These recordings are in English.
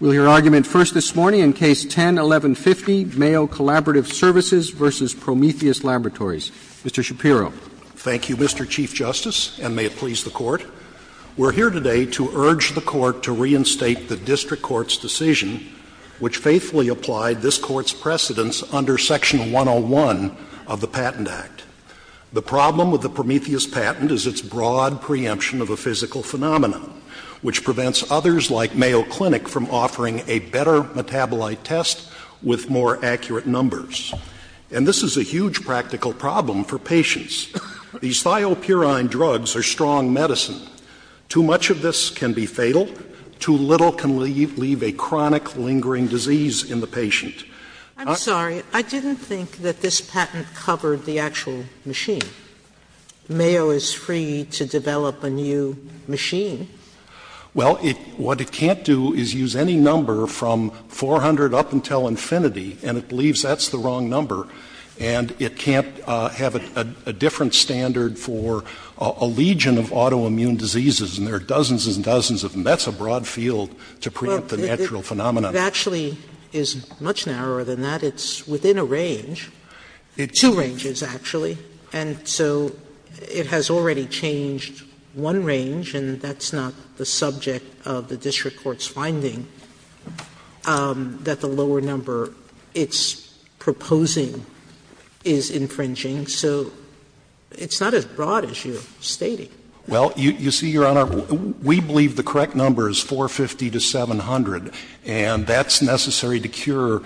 Mr. Shapiro. Thank you, Mr. Chief Justice, and may it please the Court. We are here today to urge the Court to reinstate the district court's decision, which faithfully applied this court's precedents under Section 101 of the Patent Act. The problem with the Prometheus patent is its broad preemption of a physical The patent is not a physical phenomenon. which prevents others like Mayo Clinic from offering a better metabolite test with more accurate numbers. And this is a huge practical problem for patients. These thiopurine drugs are strong medicine. Too much of this can be fatal. Too little can leave a chronic, lingering disease in the patient. I'm sorry. I didn't think that this patent covered the actual machine. Mayo is free to develop a new machine. Well, what it can't do is use any number from 400 up until infinity, and it believes that's the wrong number. And it can't have a different standard for a legion of autoimmune diseases, and there are dozens and dozens of them. That's a broad field to preempt the natural phenomenon. It actually is much narrower than that. It's within a range. Two ranges, actually. And so it has already changed one range, and that's not the subject of the district court's finding, that the lower number it's proposing is infringing. So it's not as broad as you're stating. Well, you see, Your Honor, we believe the correct number is 450 to 700, and that's necessary to cure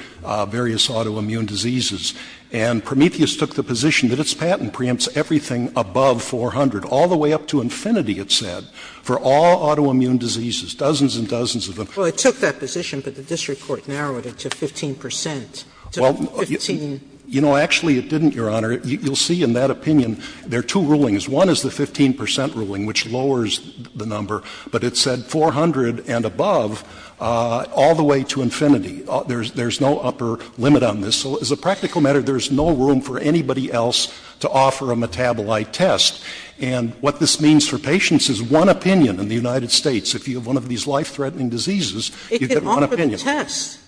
various autoimmune diseases. And Prometheus took the position that its patent preempts everything above 400, all the way up to infinity, it said, for all autoimmune diseases. Dozens and dozens of them. Well, it took that position, but the district court narrowed it to 15 percent, to 15. You know, actually it didn't, Your Honor. You'll see in that opinion there are two rulings. One is the 15 percent ruling, which lowers the number, but it said 400 and above all the way to infinity. There's no upper limit on this. So as a practical matter, there's no room for anybody else to offer a metabolite test, and what this means for patients is one opinion in the United States. If you have one of these life-threatening diseases, you get one opinion. It can offer the test.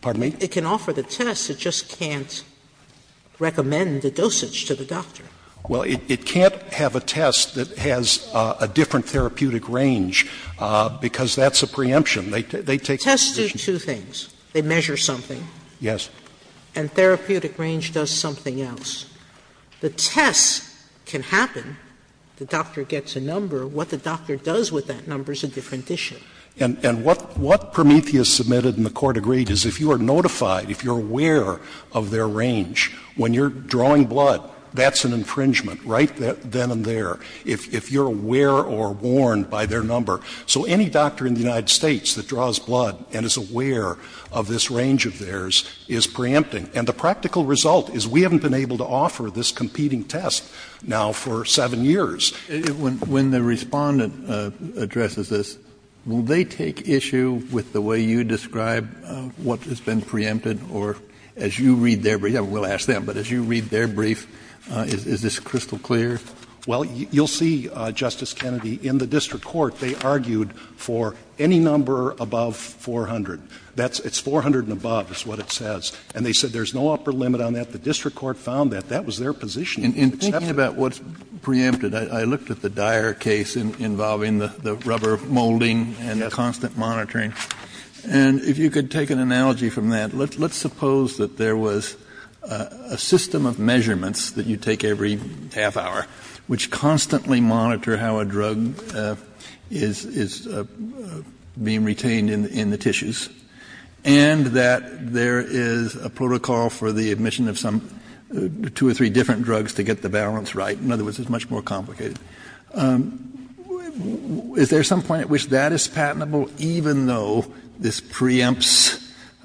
Pardon me? It can offer the test. It just can't recommend the dosage to the doctor. Well, it can't have a test that has a different therapeutic range, because that's a preemption. They take the position. Tests do two things. They measure something. Yes. And therapeutic range does something else. The test can happen. The doctor gets a number. What the doctor does with that number is a different issue. And what Prometheus submitted and the Court agreed is if you are notified, if you are aware of their range, when you're drawing blood, that's an infringement right then and there, if you're aware or warned by their number. So any doctor in the United States that draws blood and is aware of this range of theirs is preempting. And the practical result is we haven't been able to offer this competing test now for seven years. When the Respondent addresses this, will they take issue with the way you describe what has been preempted? Or as you read their brief, I will ask them, but as you read their brief, is this crystal clear? Well, you'll see, Justice Kennedy, in the district court they argued for any number above 400. It's 400 and above is what it says. And they said there's no upper limit on that. The district court found that. That was their position. Kennedy, in thinking about what's preempted, I looked at the Dyer case involving the rubber molding and the constant monitoring. And if you could take an analogy from that, let's suppose that there was a system of measurements that you take every half hour which constantly monitor how a drug is being retained in the tissues, and that there is a protocol for the admission of some two or three different drugs to get the balance right. In other words, it's much more complicated. Is there some point at which that is patentable, even though this preempts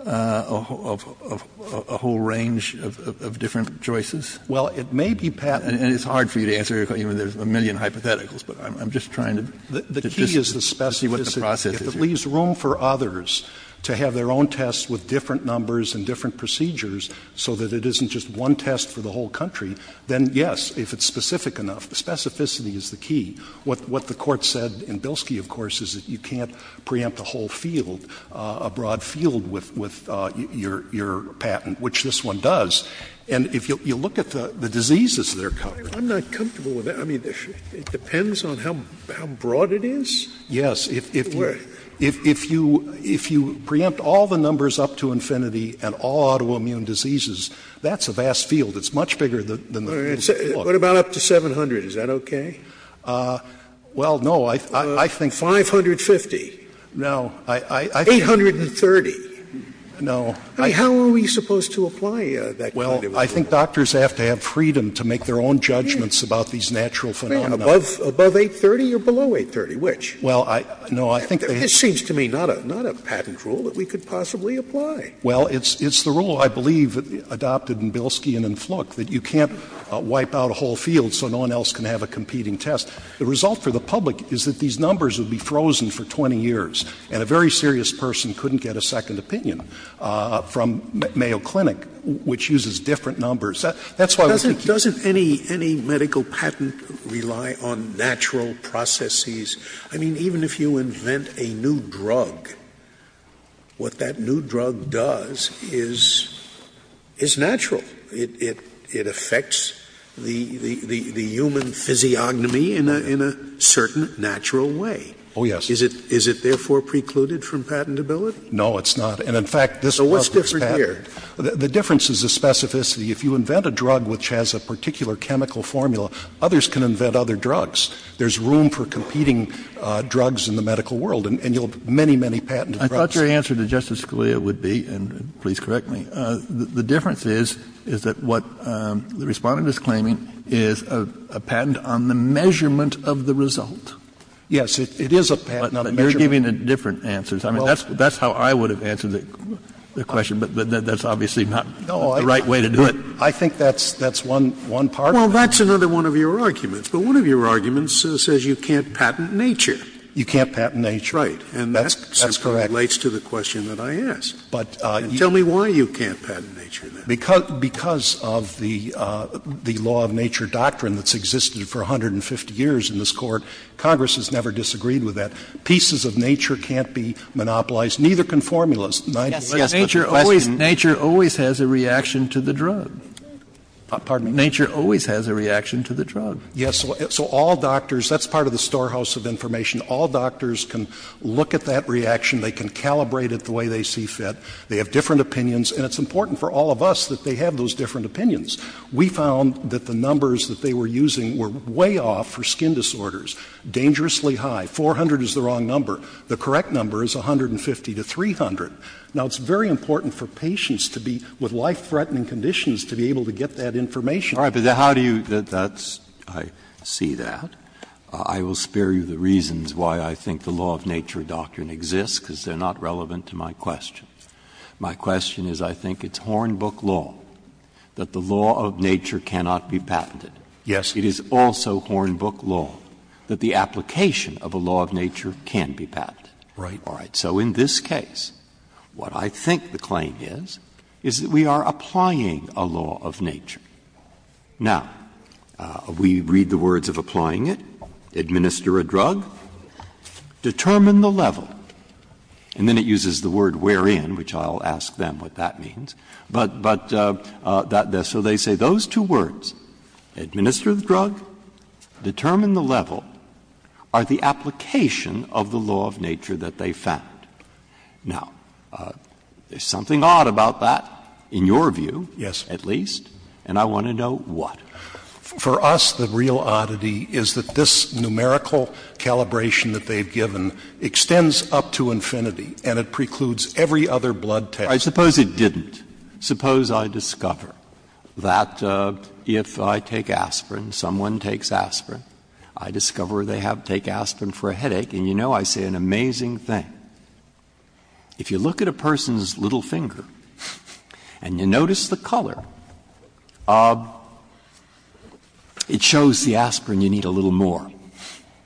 a whole range of different choices? Well, it may be patentable. And it's hard for you to answer even if there's a million hypotheticals. But I'm just trying to see what the process is here. The key is the specificity. If it leaves room for others to have their own tests with different numbers and different procedures, so that it isn't just one test for the whole country, then, yes, if it's specific enough. Specificity is the key. What the Court said in Bilski, of course, is that you can't preempt the whole field, a broad field, with your patent, which this one does. And if you look at the diseases that are covered. I'm not comfortable with that. I mean, it depends on how broad it is? Yes. If you preempt all the numbers up to infinity and all autoimmune diseases, that's a vast field. It's much bigger than the field. What about up to 700? Is that okay? Well, no. I think. 550? No. 830? No. I mean, how are we supposed to apply that kind of rule? I think doctors have to have freedom to make their own judgments about these natural phenomena. Above 830 or below 830? Which? Well, no, I think. It seems to me not a patent rule that we could possibly apply. Well, it's the rule, I believe, adopted in Bilski and in Fluke, that you can't wipe out a whole field so no one else can have a competing test. The result for the public is that these numbers would be frozen for 20 years and a very different numbers. That's why we think. Doesn't any medical patent rely on natural processes? I mean, even if you invent a new drug, what that new drug does is natural. It affects the human physiognomy in a certain natural way. Oh, yes. Is it therefore precluded from patentability? No, it's not. And in fact, this was patented. So what's different here? The difference is the specificity. If you invent a drug which has a particular chemical formula, others can invent other drugs. There's room for competing drugs in the medical world. And you'll have many, many patented drugs. I thought your answer to Justice Scalia would be, and please correct me, the difference is that what the Respondent is claiming is a patent on the measurement of the result. Yes, it is a patent on the measurement. But you're giving different answers. I mean, that's how I would have answered the question. But that's obviously not the right way to do it. No, I think that's one part of it. Well, that's another one of your arguments. But one of your arguments says you can't patent nature. You can't patent nature. Right. And that simply relates to the question that I asked. Tell me why you can't patent nature, then. Because of the law of nature doctrine that's existed for 150 years in this Court, Congress has never disagreed with that. Pieces of nature can't be monopolized. Neither can formulas. Nature always has a reaction to the drug. Nature always has a reaction to the drug. Yes. So all doctors, that's part of the storehouse of information. All doctors can look at that reaction. They can calibrate it the way they see fit. They have different opinions. And it's important for all of us that they have those different opinions. We found that the numbers that they were using were way off for skin disorders, dangerously high. 400 is the wrong number. The correct number is 150 to 300. Now, it's very important for patients to be with life-threatening conditions to be able to get that information. All right. But how do you do that? I see that. I will spare you the reasons why I think the law of nature doctrine exists, because they are not relevant to my question. My question is I think it's Hornbook law that the law of nature cannot be patented. Yes. It is also Hornbook law that the application of a law of nature can be patented. All right. So in this case, what I think the claim is, is that we are applying a law of nature. Now, we read the words of applying it. Administer a drug. Determine the level. And then it uses the word wherein, which I'll ask them what that means. But that so they say those two words, administer the drug, determine the level, are the application of the law of nature that they found. Now, there's something odd about that, in your view. Yes. At least. And I want to know what. For us, the real oddity is that this numerical calibration that they've given extends up to infinity, and it precludes every other blood test. I suppose it didn't. Suppose I discover that if I take aspirin, someone takes aspirin. I discover they take aspirin for a headache. And you know, I say an amazing thing. If you look at a person's little finger and you notice the color, it shows the aspirin you need a little more.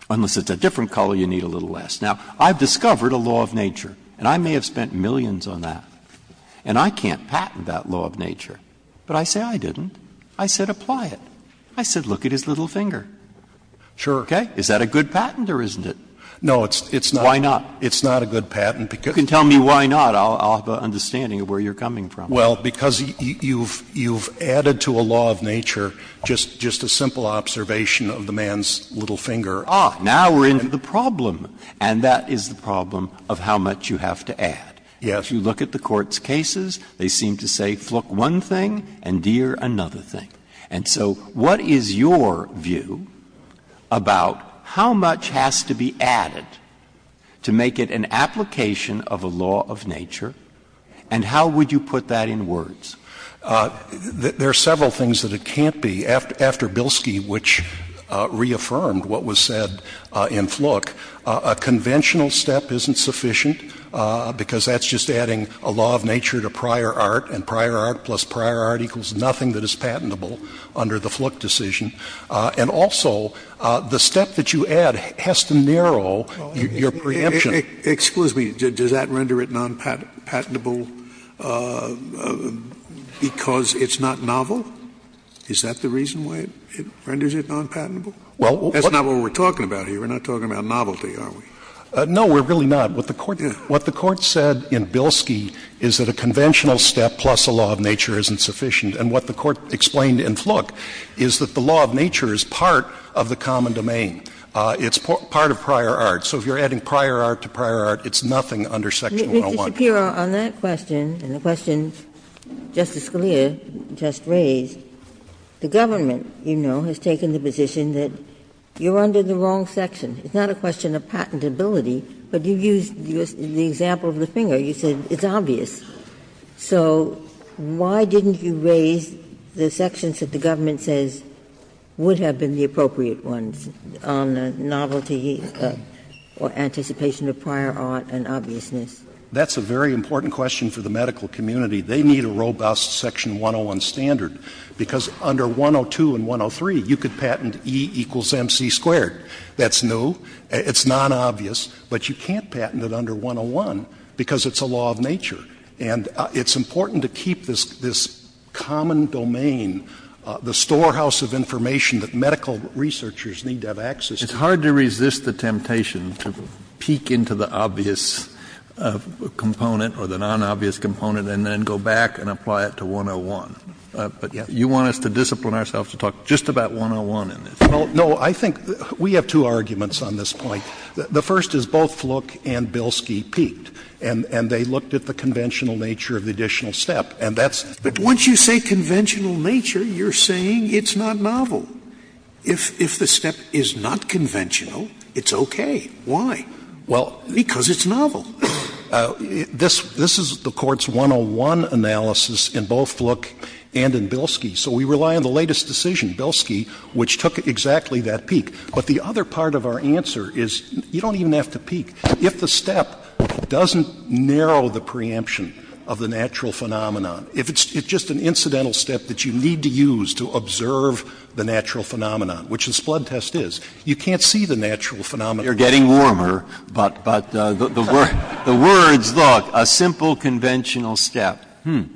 Unless it's a different color, you need a little less. Now, I've discovered a law of nature, and I may have spent millions on that. And I can't patent that law of nature. But I say I didn't. I said apply it. I said look at his little finger. Sure. Okay? Is that a good patent or isn't it? No, it's not. Why not? It's not a good patent because You can tell me why not. I'll have an understanding of where you're coming from. Well, because you've added to a law of nature just a simple observation of the man's little finger. Ah, now we're into the problem. And that is the problem of how much you have to add. Yes. If you look at the Court's cases, they seem to say fluke one thing and deer another thing. And so what is your view about how much has to be added to make it an application of a law of nature, and how would you put that in words? There are several things that it can't be. After Bilski, which reaffirmed what was said in Fluke, a conventional step isn't sufficient because that's just adding a law of nature to prior art, and prior art plus prior art equals nothing that is patentable under the Fluke decision. And also, the step that you add has to narrow your preemption. Well, excuse me. Does that render it nonpatentable because it's not novel? Is that the reason why it renders it nonpatentable? Well, what That's not what we're talking about here. We're not talking about novelty, are we? No, we're really not. What the Court said in Bilski is that a conventional step plus a law of nature isn't sufficient. And what the Court explained in Fluke is that the law of nature is part of the common domain. It's part of prior art. So if you're adding prior art to prior art, it's nothing under Section 101. Mr. Shapiro, on that question and the questions Justice Scalia just raised, the government, you know, has taken the position that you're under the wrong section. It's not a question of patentability, but you used the example of the finger. You said it's obvious. So why didn't you raise the sections that the government says would have been the appropriate ones on the novelty or anticipation of prior art and obviousness? That's a very important question for the medical community. They need a robust Section 101 standard, because under 102 and 103, you could patent E equals MC squared. That's new. It's nonobvious. But you can't patent it under 101, because it's a law of nature. And it's important to keep this common domain, the storehouse of information that medical researchers need to have access to. Kennedy, it's hard to resist the temptation to peek into the obvious component or the nonobvious component and then go back and apply it to 101. But you want us to discipline ourselves to talk just about 101 in this. Well, no. I think we have two arguments on this point. The first is both Fluke and Bilski peeked, and they looked at the conventional nature of the additional step. But once you say conventional nature, you're saying it's not novel. If the step is not conventional, it's okay. Why? Well, because it's novel. This is the Court's 101 analysis in both Fluke and in Bilski. So we rely on the latest decision, Bilski, which took exactly that peek. But the other part of our answer is you don't even have to peek. If the step doesn't narrow the preemption of the natural phenomenon, if it's just an incidental step that you need to use to observe the natural phenomenon, which the Splod test is, you can't see the natural phenomenon. You're getting warmer, but the words, look, a simple conventional step. Hmm. Breyer.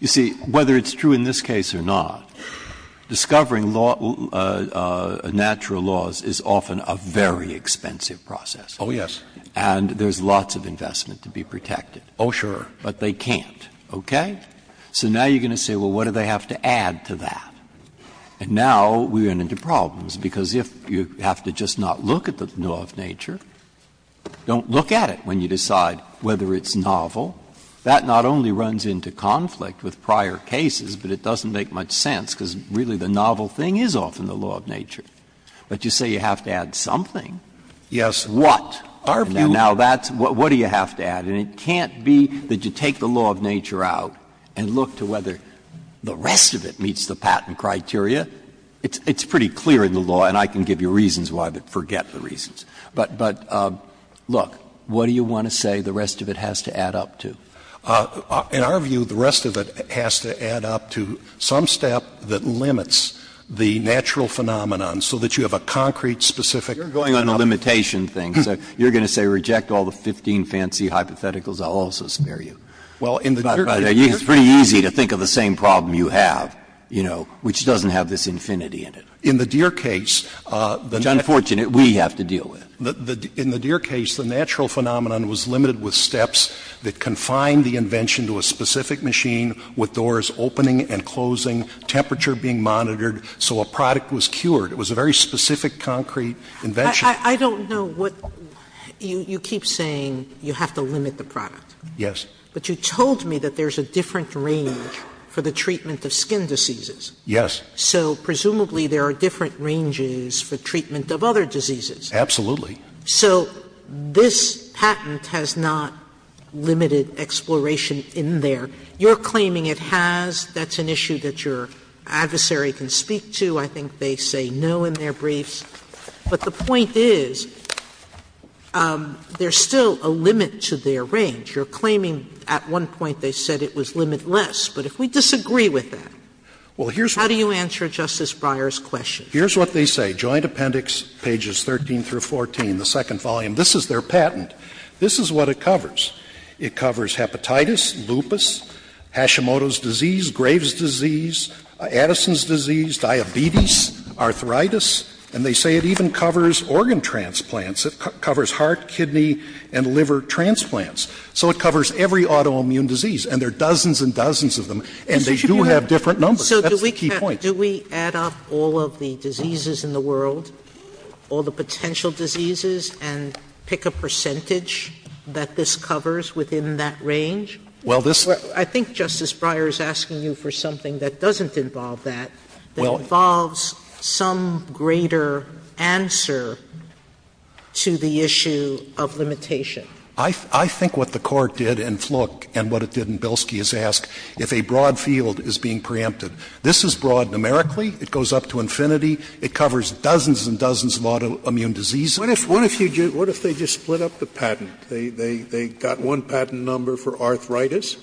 You see, whether it's true in this case or not, discovering natural laws is often a very expensive process. Oh, yes. And there's lots of investment to be protected. Oh, sure. But they can't. Okay? So now you're going to say, well, what do they have to add to that? And now we run into problems, because if you have to just not look at the law of nature, don't look at it when you decide whether it's novel. That not only runs into conflict with prior cases, but it doesn't make much sense, because really the novel thing is often the law of nature. But you say you have to add something. Yes. What? Now, that's what do you have to add? And it can't be that you take the law of nature out and look to whether the rest of it meets the patent criteria. It's pretty clear in the law, and I can give you reasons why, but forget the reasons. But, look, what do you want to say the rest of it has to add up to? In our view, the rest of it has to add up to some step that limits the natural phenomenon so that you have a concrete, specific. You're going on the limitation thing. So you're going to say reject all the 15 fancy hypotheticals. I'll also spare you. Well, in the Deere case. It's pretty easy to think of the same problem you have, you know, which doesn't have this infinity in it. In the Deere case, the net. That's unfortunate. We have to deal with it. In the Deere case, the natural phenomenon was limited with steps that confined the invention to a specific machine with doors opening and closing, temperature being monitored, so a product was cured. It was a very specific, concrete invention. I don't know what you keep saying you have to limit the product. Yes. But you told me that there's a different range for the treatment of skin diseases. Yes. So presumably there are different ranges for treatment of other diseases. Absolutely. So this patent has not limited exploration in there. You're claiming it has. That's an issue that your adversary can speak to. I think they say no in their briefs. But the point is there's still a limit to their range. You're claiming at one point they said it was limitless. But if we disagree with that, how do you answer that? How do you answer Justice Breyer's question? Here's what they say, Joint Appendix, pages 13 through 14, the second volume. This is their patent. This is what it covers. It covers hepatitis, lupus, Hashimoto's disease, Graves' disease, Addison's disease, diabetes, arthritis, and they say it even covers organ transplants. It covers heart, kidney, and liver transplants. So it covers every autoimmune disease. And there are dozens and dozens of them. And they do have different numbers. That's the key point. Sotomayor So do we add up all of the diseases in the world, all the potential diseases, and pick a percentage that this covers within that range? I think Justice Breyer is asking you for something that doesn't involve that, that involves some greater answer to the issue of limitation. I think what the Court did in Flook and what it did in Bilski is ask if a broad field is being preempted. This is broad numerically. It goes up to infinity. It covers dozens and dozens of autoimmune diseases. Scalia What if they just split up the patent? They got one patent number for arthritis,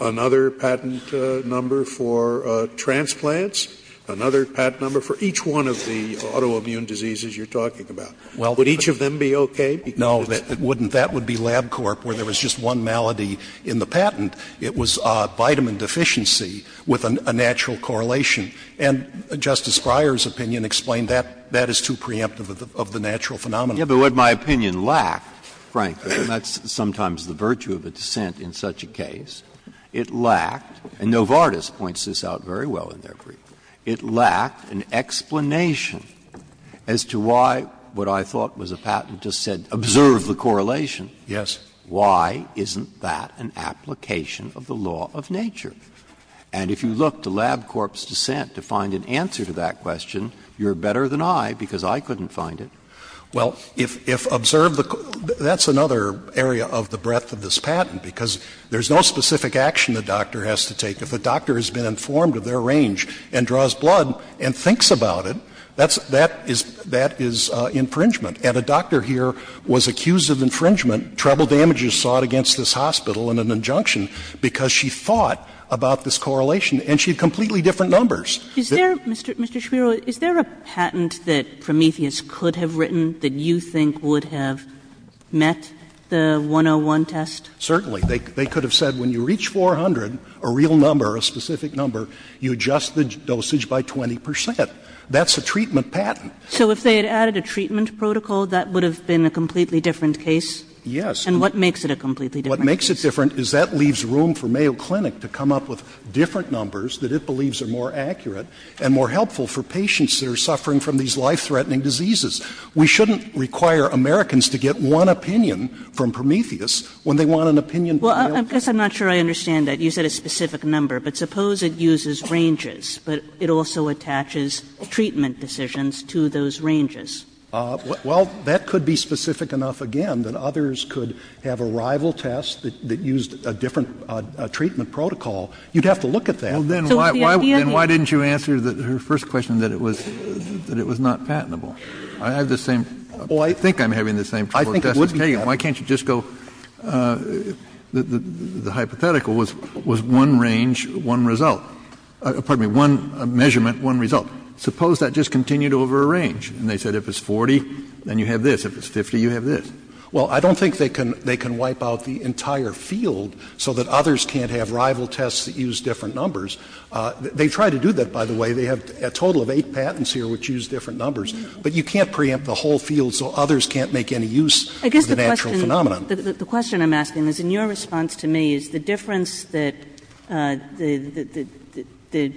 another patent number for transplants, another patent number for each one of the autoimmune diseases you're talking about. Would each of them be okay? Because it's. Scalia No, it wouldn't. That would be LabCorp, where there was just one malady in the patent. It was vitamin deficiency with a natural correlation. And Justice Breyer's opinion explained that. That is too preemptive of the natural phenomenon. Breyer Yes, but what my opinion lacked, frankly, and that's sometimes the virtue of a dissent in such a case, it lacked, and Novartis points this out very well in their brief, it lacked an explanation as to why what I thought was a patent just said, observe the correlation. Scalia Yes. Breyer Why isn't that an application of the law of nature? And if you look to LabCorp's dissent to find an answer to that question, you're better than I because I couldn't find it. Scalia Well, if observe the — that's another area of the breadth of this patent, because there's no specific action the doctor has to take. If the doctor has been informed of their range and draws blood and thinks about it, that's — that is — that is infringement. And a doctor here was accused of infringement, treble damages sought against this hospital, and an injunction, because she thought about this correlation, and she had completely different numbers. Kagan Mr. Shapiro, is there a patent that Prometheus could have written that you think would have met the 101 test? Shapiro Certainly. They could have said when you reach 400, a real number, a specific number, you adjust the dosage by 20 percent. That's a treatment patent. Kagan So if they had added a treatment protocol, that would have been a completely different case? Shapiro Yes. Kagan And what makes it a completely different case? Shapiro What makes it different is that leaves room for Mayo Clinic to come up with different numbers that it believes are more accurate and more helpful for patients that are suffering from these life-threatening diseases. We shouldn't require Americans to get one opinion from Prometheus when they want an opinion from Mayo Clinic. Kagan Well, I guess I'm not sure I understand that. You said a specific number. But suppose it uses ranges, but it also attaches treatment decisions to those ranges. Shapiro Well, that could be specific enough, again, that others could have a rival test that used a different treatment protocol. You'd have to look at that. Kennedy Then why didn't you answer her first question that it was not patentable? I have the same question. I think I'm having the same question as Justice Kagan. Why can't you just go, the hypothetical was one range, one result. Pardon me, one measurement, one result. Suppose that just continued over a range. And they said if it's 40, then you have this. If it's 50, you have this. Shapiro Well, I don't think they can wipe out the entire field so that others can't have rival tests that use different numbers. They've tried to do that, by the way. They have a total of eight patents here which use different numbers. But you can't preempt the whole field so others can't make any use of that. Kagan The question I'm asking is, in your response to me, is the difference that the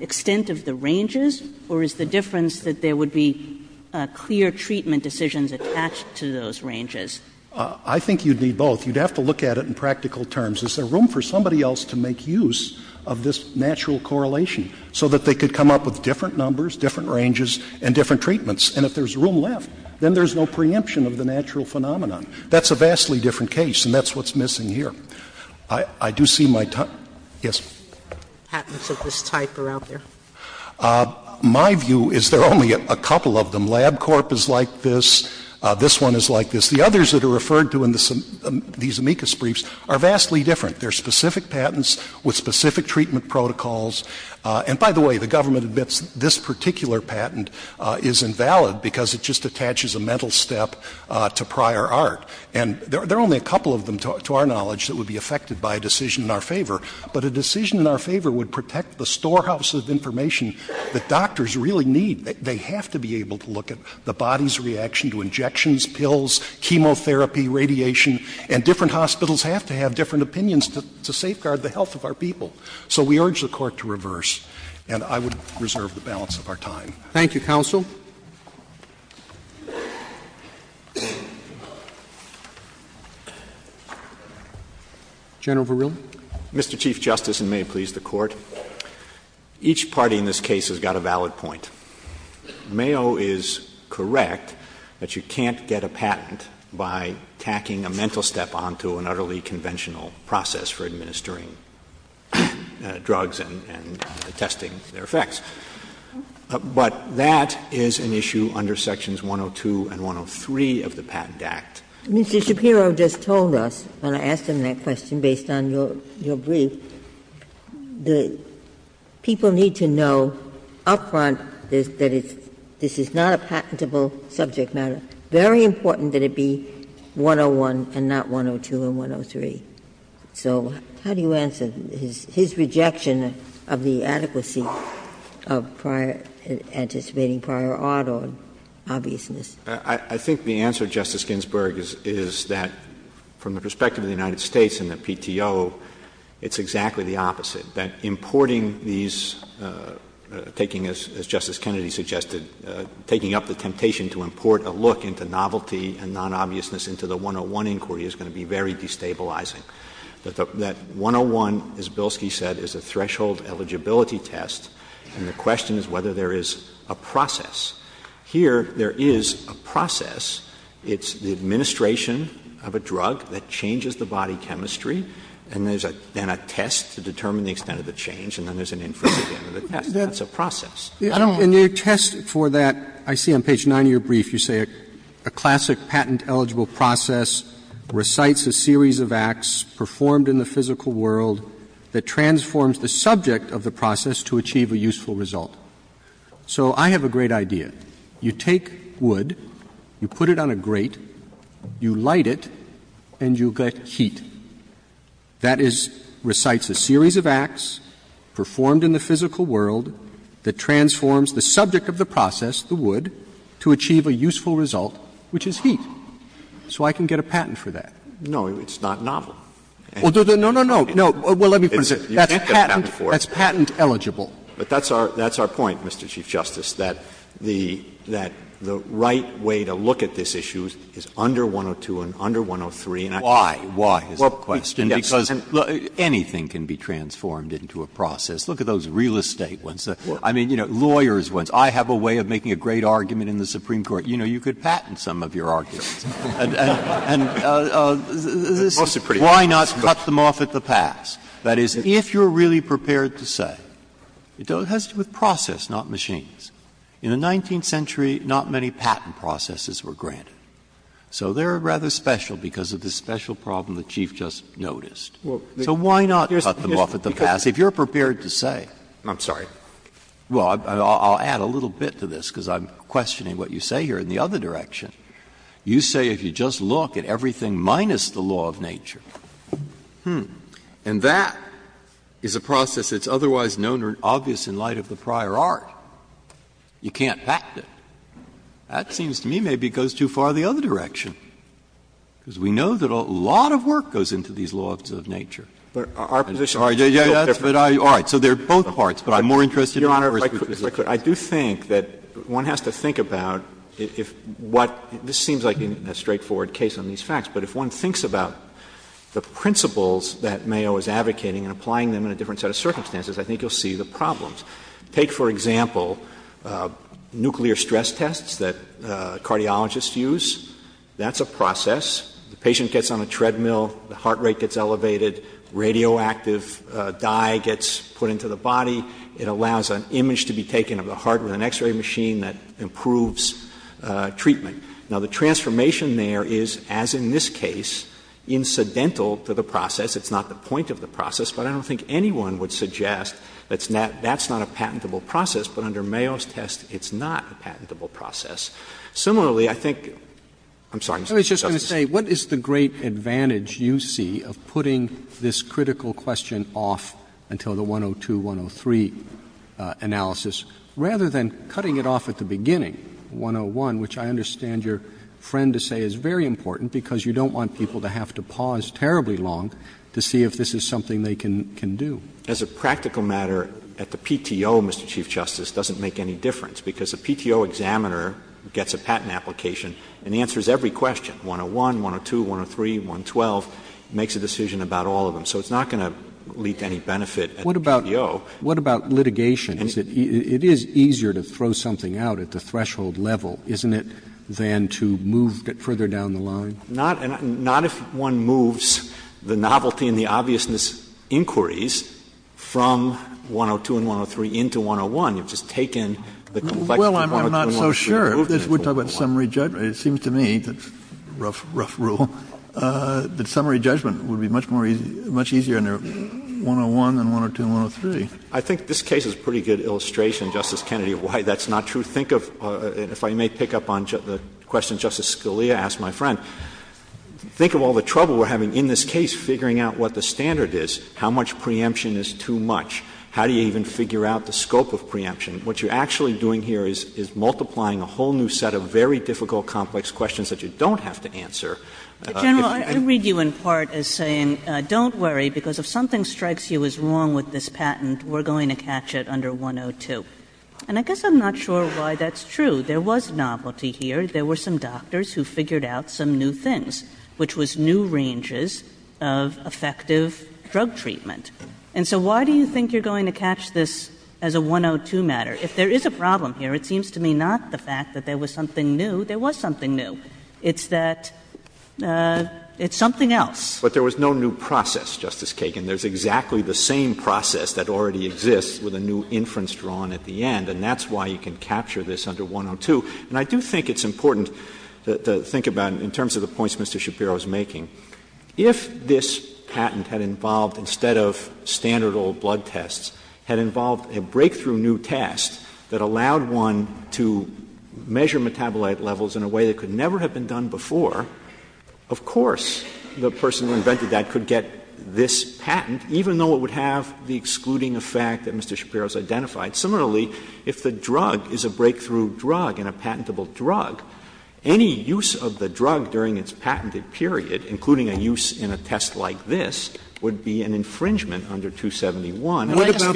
extent of the ranges, or is the difference that there would be clear treatment decisions attached to those ranges? Shapiro I think you'd need both. You'd have to look at it in practical terms. Is there room for somebody else to make use of this natural correlation so that they could come up with different numbers, different ranges, and different treatments? And if there's room left, then there's no preemption of the natural phenomenon. That's a vastly different case, and that's what's missing here. I do see my time. Yes. Sotomayor Patents of this type are out there. Shapiro My view is there are only a couple of them. LabCorp is like this. This one is like this. The others that are referred to in these amicus briefs are vastly different. They're specific patents with specific treatment protocols. And by the way, the government admits this particular patent is invalid because it just attaches a mental step to prior art. And there are only a couple of them, to our knowledge, that would be affected by a decision in our favor. But a decision in our favor would protect the storehouse of information that doctors really need. They have to be able to look at the body's reaction to injections, pills, chemotherapy, radiation, and different hospitals have to have different opinions to safeguard the health of our people. So we urge the Court to reverse, and I would reserve the balance of our time. Thank you, Counsel. General Verrilli. Mr. Chief Justice, and may it please the Court, each party in this case has got a valid point. Mayo is correct that you can't get a patent by tacking a mental step onto an utterly conventional process for administering. Drugs and testing their effects. But that is an issue under Sections 102 and 103 of the Patent Act. Mr. Shapiro just told us, when I asked him that question based on your brief, that people need to know up front that this is not a patentable subject matter. Very important that it be 101 and not 102 and 103. So how do you answer his rejection of the adequacy of anticipating prior odd on obviousness? I think the answer, Justice Ginsburg, is that from the perspective of the United States and the PTO, it's exactly the opposite. That importing these, taking, as Justice Kennedy suggested, taking up the temptation to import a look into novelty and nonobviousness into the 101 inquiry is going to be very destabilizing. That 101, as Bilski said, is a threshold eligibility test, and the question is whether there is a process. Here, there is a process. It's the administration of a drug that changes the body chemistry, and there is then a test to determine the extent of the change, and then there is an inference at the end of the test. That's a process. I don't want to go into that. But in your test for that, I see on page 9 of your brief you say a classic patent-eligible process recites a series of acts performed in the physical world that transforms the subject of the process to achieve a useful result. So I have a great idea. You take wood, you put it on a grate, you light it, and you get heat. That is, recites a series of acts performed in the physical world that transforms the subject of the process, the wood, to achieve a useful result, which is heat. So I can get a patent for that. No, it's not novel. Well, no, no, no, no. Well, let me put it this way. You can't get a patent for it. That's patent eligible. But that's our point, Mr. Chief Justice, that the right way to look at this issue is under 102 and under 103. Why? Why is the question, because anything can be transformed into a process. Look at those real estate ones. I mean, you know, lawyers' ones. I have a way of making a great argument in the Supreme Court. You know, you could patent some of your arguments. And this is why not cut them off at the pass? That is, if you're really prepared to say, it has to do with process, not machines. In the 19th century, not many patent processes were granted. So they're rather special because of this special problem the Chief just noticed. So why not cut them off at the pass if you're prepared to say? I'm sorry. Well, I'll add a little bit to this, because I'm questioning what you say here in the other direction. You say if you just look at everything minus the law of nature, and that is a process that's otherwise known or obvious in light of the prior art, you can't patent it. That seems to me maybe goes too far the other direction, because we know that a lot of work goes into these laws of nature. But our position is a little different. All right. So there are both parts, but I'm more interested in the first part. Your Honor, if I could be quick, I do think that one has to think about if what this seems like a straightforward case on these facts, but if one thinks about the principles that Mayo is advocating and applying them in a different set of circumstances, I think you'll see the problems. Take, for example, nuclear stress tests that cardiologists use. That's a process. The patient gets on a treadmill, the heart rate gets elevated, radioactive dye gets put into the body, it allows an image to be taken of the heart with an x-ray machine that improves treatment. Now, the transformation there is, as in this case, incidental to the process. It's not the point of the process, but I don't think anyone would suggest that's not a patentable process. But under Mayo's test, it's not a patentable process. Roberts, I was going to say, what is the great advantage you see of putting this critical question off until the 102-103 analysis, rather than cutting it off at the beginning, 101, which I understand your friend to say is very important, because you don't want people to have to pause terribly long to see if this is something they can do. As a practical matter, at the PTO, Mr. Chief Justice, it doesn't make any difference, because a PTO examiner gets a patent application and answers every question, 101, 102, 103, 112, makes a decision about all of them. So it's not going to lead to any benefit at the PTO. Roberts, what about litigation? It is easier to throw something out at the threshold level, isn't it, than to move further down the line? Not if one moves the novelty and the obviousness inquiries from 102 and 103 into 101. You've just taken the complexity of 102 and 103 and moved it into 101. Kennedy, it seems to me, that's a rough rule, that summary judgment would be much more easy, much easier under 101 than 102 and 103. I think this case is a pretty good illustration, Justice Kennedy, of why that's not true. Think of, if I may pick up on the question Justice Scalia asked my friend, think of all the trouble we're having in this case figuring out what the standard is, how much preemption is too much. How do you even figure out the scope of preemption? What you're actually doing here is multiplying a whole new set of very difficult, complex questions that you don't have to answer. If you're going to catch it under 102. And I guess I'm not sure why that's true. There was novelty here. There were some doctors who figured out some new things, which was new ranges of effective drug treatment. And so why do you think you're going to catch this as a 102 matter? If there is a problem here, it seems to me not the fact that there was something new. There was something new. It's that it's something else. Verrilli, But there was no new process, Justice Kagan. There's exactly the same process that already exists with a new inference drawn at the end, and that's why you can capture this under 102. And I do think it's important to think about, in terms of the points Mr. Shapiro is making, if this patent had involved, instead of standard old blood tests, had involved a breakthrough new test that allowed one to measure metabolite levels in a way that could never have been done before, of course the person who invented that could get this patent, even though it would have the excluding effect that Mr. Shapiro has identified. Similarly, if the drug is a breakthrough drug and a patentable drug, any use of the period, including a use in a test like this, would be an infringement under 271. And what about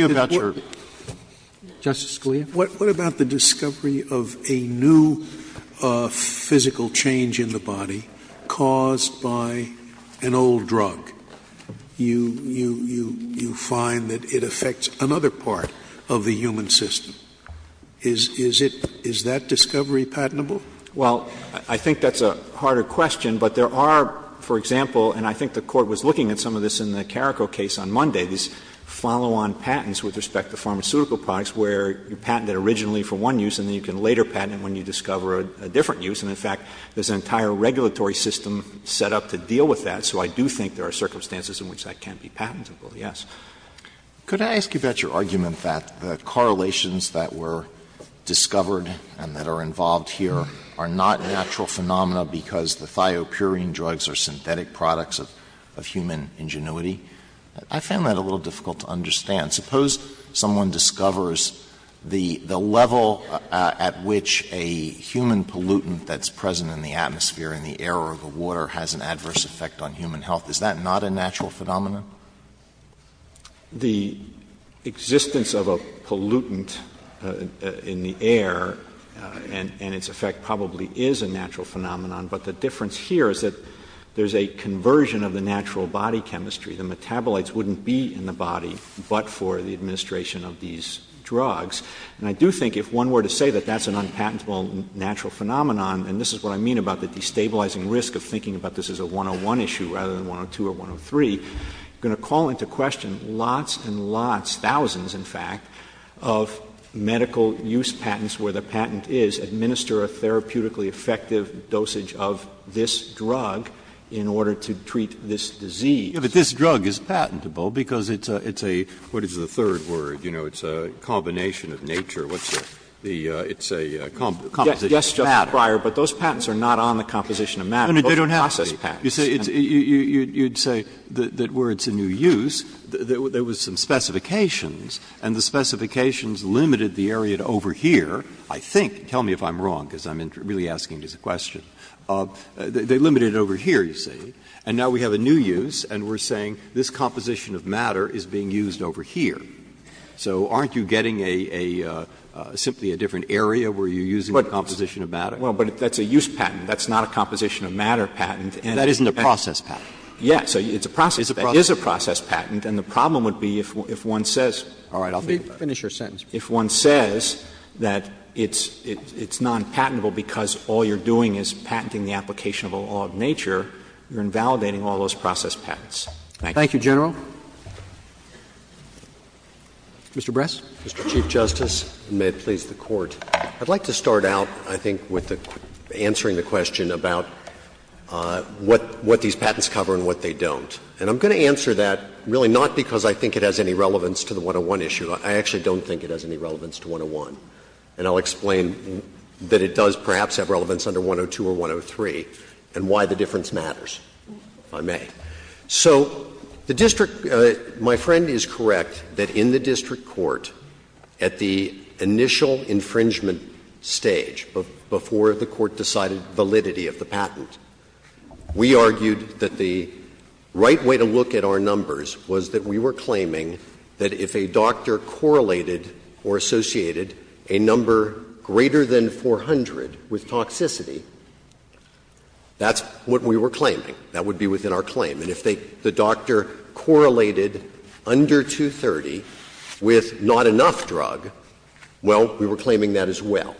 the discovery of a new physical change in the body caused by an old drug? You find that it affects another part of the human system. Is that discovery patentable? Well, I think that's a harder question, but there are, for example, and I think the Court was looking at some of this in the Carrico case on Monday, these follow-on patents with respect to pharmaceutical products where you patent it originally for one use and then you can later patent it when you discover a different use. And in fact, there's an entire regulatory system set up to deal with that, so I do think there are circumstances in which that can be patentable, yes. Alitoso, could I ask you about your argument that the correlations that were discovered and that are involved here are not natural phenomena because the thiopurine drugs are synthetic products of human ingenuity? I found that a little difficult to understand. Suppose someone discovers the level at which a human pollutant that's present in the atmosphere, in the air or the water, has an adverse effect on human health. Is that not a natural phenomena? The existence of a pollutant in the air and its effect probably is a natural phenomenon, but the difference here is that there's a conversion of the natural body chemistry. The metabolites wouldn't be in the body but for the administration of these drugs. And I do think if one were to say that that's an unpatentable natural phenomenon, and this is what I mean about the destabilizing risk of thinking about this as a 101 issue rather than 102 or 103, you're going to call into question lots and lots, thousands in fact, of medical use patents where the patent is administer a therapeutically effective dosage of this drug in order to treat this disease. Breyer, but this drug is patentable because it's a, what is the third word, you know, it's a combination of nature. What's the, it's a composition of matter. Yes, Justice Breyer, but those patents are not on the composition of matter. They don't have to be. You say it's, you'd say that where it's a new use, there was some specifications and the specifications limited the area over here, I think, tell me if I'm wrong because I'm really asking this question, they limited it over here, you see, and now we have a new use and we're saying this composition of matter is being used over here. So aren't you getting a, simply a different area where you're using the composition of matter? Well, but that's a use patent. That's not a composition of matter patent. That isn't a process patent. Yes. It's a process patent. It is a process patent. And the problem would be if one says. All right. Let me finish your sentence. If one says that it's non-patentable because all you're doing is patenting the application of a law of nature, you're invalidating all those process patents. Thank you. Mr. Bress. Mr. Chief Justice, and may it please the Court. I'd like to start out, I think, with answering the question about what these patents cover and what they don't. And I'm going to answer that really not because I think it has any relevance to the 101 issue. I actually don't think it has any relevance to 101. And I'll explain that it does perhaps have relevance under 102 or 103 and why the difference matters, if I may. So the district, my friend is correct that in the district court, at the initial infringement stage, before the Court decided validity of the patent, we argued that the right way to look at our numbers was that we were claiming that if a doctor correlated or associated a number greater than 400 with toxicity, that's what we were claiming. That would be within our claim. And if the doctor correlated under 230 with not enough drug, well, we were claiming that as well.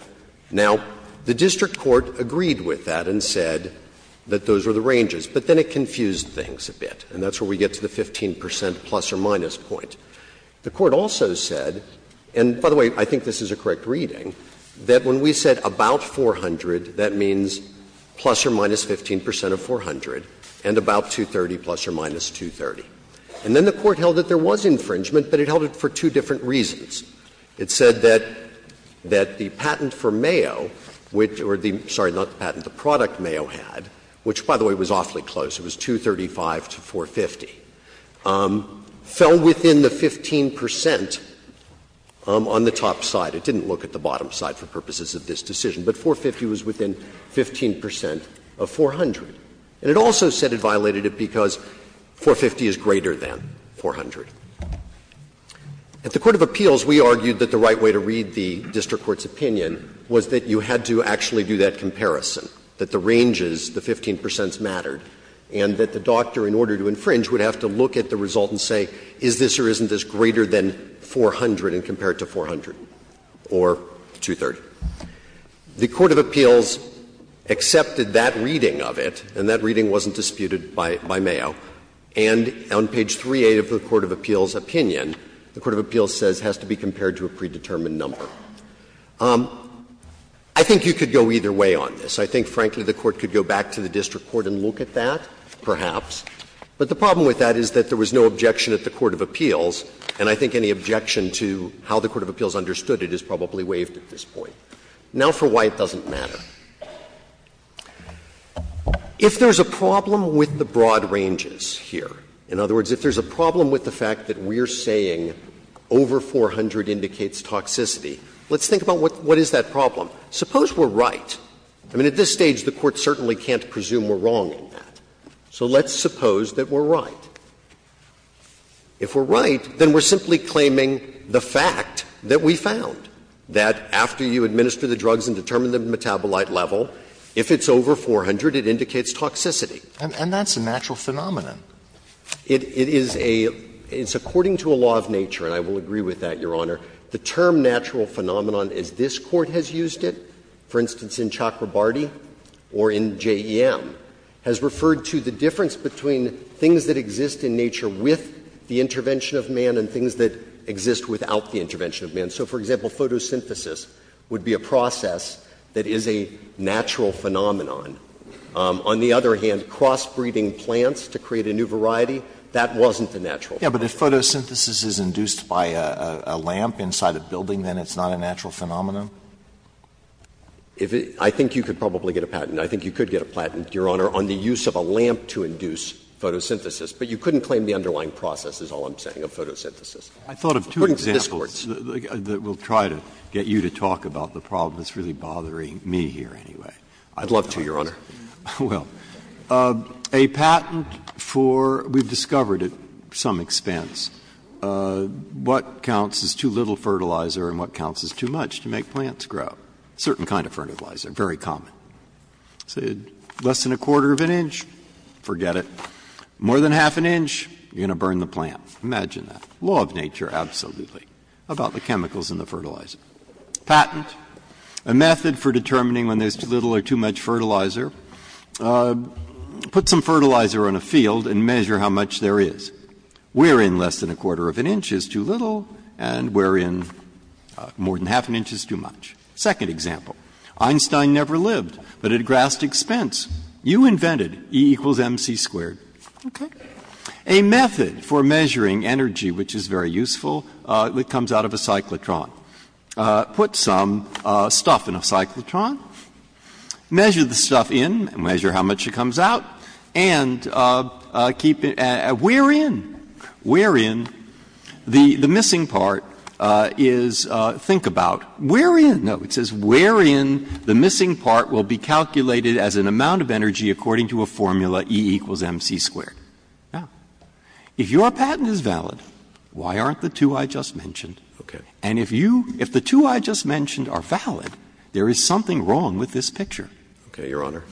Now, the district court agreed with that and said that those were the ranges. But then it confused things a bit, and that's where we get to the 15 percent plus or minus point. The Court also said, and by the way, I think this is a correct reading, that when we said about 400, that means plus or minus 15 percent of 400, and about 230 plus or minus 230. And then the Court held that there was infringement, but it held it for two different reasons. It said that the patent for Mayo, which or the — sorry, not the patent, the product Mayo had, which, by the way, was awfully close, it was 235 to 450, fell within the 15 percent on the top side. It didn't look at the bottom side for purposes of this decision, but 450 was within 15 percent of 400. And it also said it violated it because 450 is greater than 400. At the court of appeals, we argued that the right way to read the district court's opinion was that you had to actually do that comparison, that the ranges, the 15 percents mattered, and that the doctor, in order to infringe, would have to look at the result and say, is this or isn't this greater than 400 and compare it to 400. Or 230. The court of appeals accepted that reading of it, and that reading wasn't disputed by Mayo. And on page 3A of the court of appeals' opinion, the court of appeals says it has to be compared to a predetermined number. I think you could go either way on this. I think, frankly, the Court could go back to the district court and look at that, perhaps. But the problem with that is that there was no objection at the court of appeals, and I think any objection to how the court of appeals understood it is probably waived at this point. Now for why it doesn't matter. If there's a problem with the broad ranges here, in other words, if there's a problem with the fact that we're saying over 400 indicates toxicity, let's think about what is that problem. Suppose we're right. I mean, at this stage, the Court certainly can't presume we're wrong in that. So let's suppose that we're right. If we're right, then we're simply claiming the fact that we found, that after you administer the drugs and determine the metabolite level, if it's over 400, it indicates toxicity. And that's a natural phenomenon. It is a – it's according to a law of nature, and I will agree with that, Your Honor. The term natural phenomenon, as this Court has used it, for instance, in Chakrabarty or in J.E.M., has referred to the difference between things that exist in nature with the intervention of man and things that exist without the intervention of man. So, for example, photosynthesis would be a process that is a natural phenomenon. On the other hand, crossbreeding plants to create a new variety, that wasn't a natural phenomenon. Alito, if photosynthesis is induced by a lamp inside a building, then it's not a natural phenomenon? I think you could probably get a patent. I think you could get a patent, Your Honor, on the use of a lamp to induce photosynthesis. But you couldn't claim the underlying process, is all I'm saying, of photosynthesis. I thought of two examples that will try to get you to talk about the problem that's really bothering me here anyway. I'd love to, Your Honor. Well, a patent for – we've discovered at some expense what counts as too little fertilizer and what counts as too much to make plants grow. A certain kind of fertilizer, very common. Say less than a quarter of an inch, forget it. More than half an inch, you're going to burn the plant. Imagine that. Law of nature, absolutely, about the chemicals in the fertilizer. Patent, a method for determining when there's too little or too much fertilizer. Put some fertilizer on a field and measure how much there is. We're in less than a quarter of an inch is too little and we're in more than half an inch is too much. Second example. Einstein never lived, but at a grasp expense, you invented E equals mc squared. Okay? A method for measuring energy, which is very useful, that comes out of a cyclotron. Put some stuff in a cyclotron, measure the stuff in, measure how much it comes out, and keep it at where in, where in, the missing part is, think about, where in, no. It says where in the missing part will be calculated as an amount of energy according to a formula E equals mc squared. Now, if your patent is valid, why aren't the two I just mentioned? And if you, if the two I just mentioned are valid, there is something wrong with this picture. Okay, Your Honor.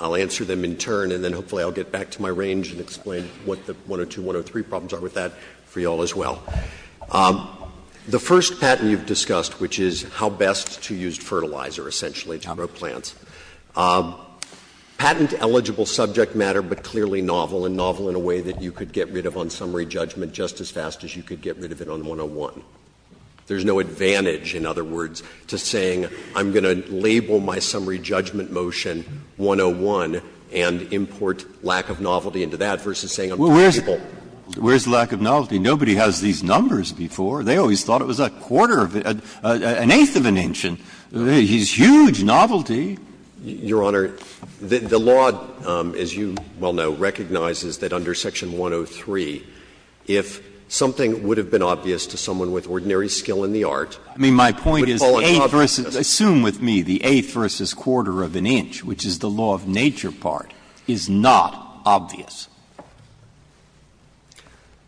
I'll answer them in turn and then hopefully I'll get back to my range and explain what the 102, 103 problems are with that for you all as well. The first patent you've discussed, which is how best to use fertilizer, essentially, to grow plants. Patent-eligible subject matter, but clearly novel, and novel in a way that you could get rid of on summary judgment just as fast as you could get rid of it on 101. There's no advantage, in other words, to saying I'm going to label my summary judgment motion 101 and import lack of novelty into that versus saying I'm predictable. Where's lack of novelty? Nobody has these numbers before. They always thought it was a quarter of an, an eighth of an inch, and he's huge novelty. Your Honor, the law, as you well know, recognizes that under section 103, if something would have been obvious to someone with ordinary skill in the art, it would fall in obviousness. I mean, my point is, eighth versus, assume with me, the eighth versus quarter of an inch, which is the law of nature part, is not obvious.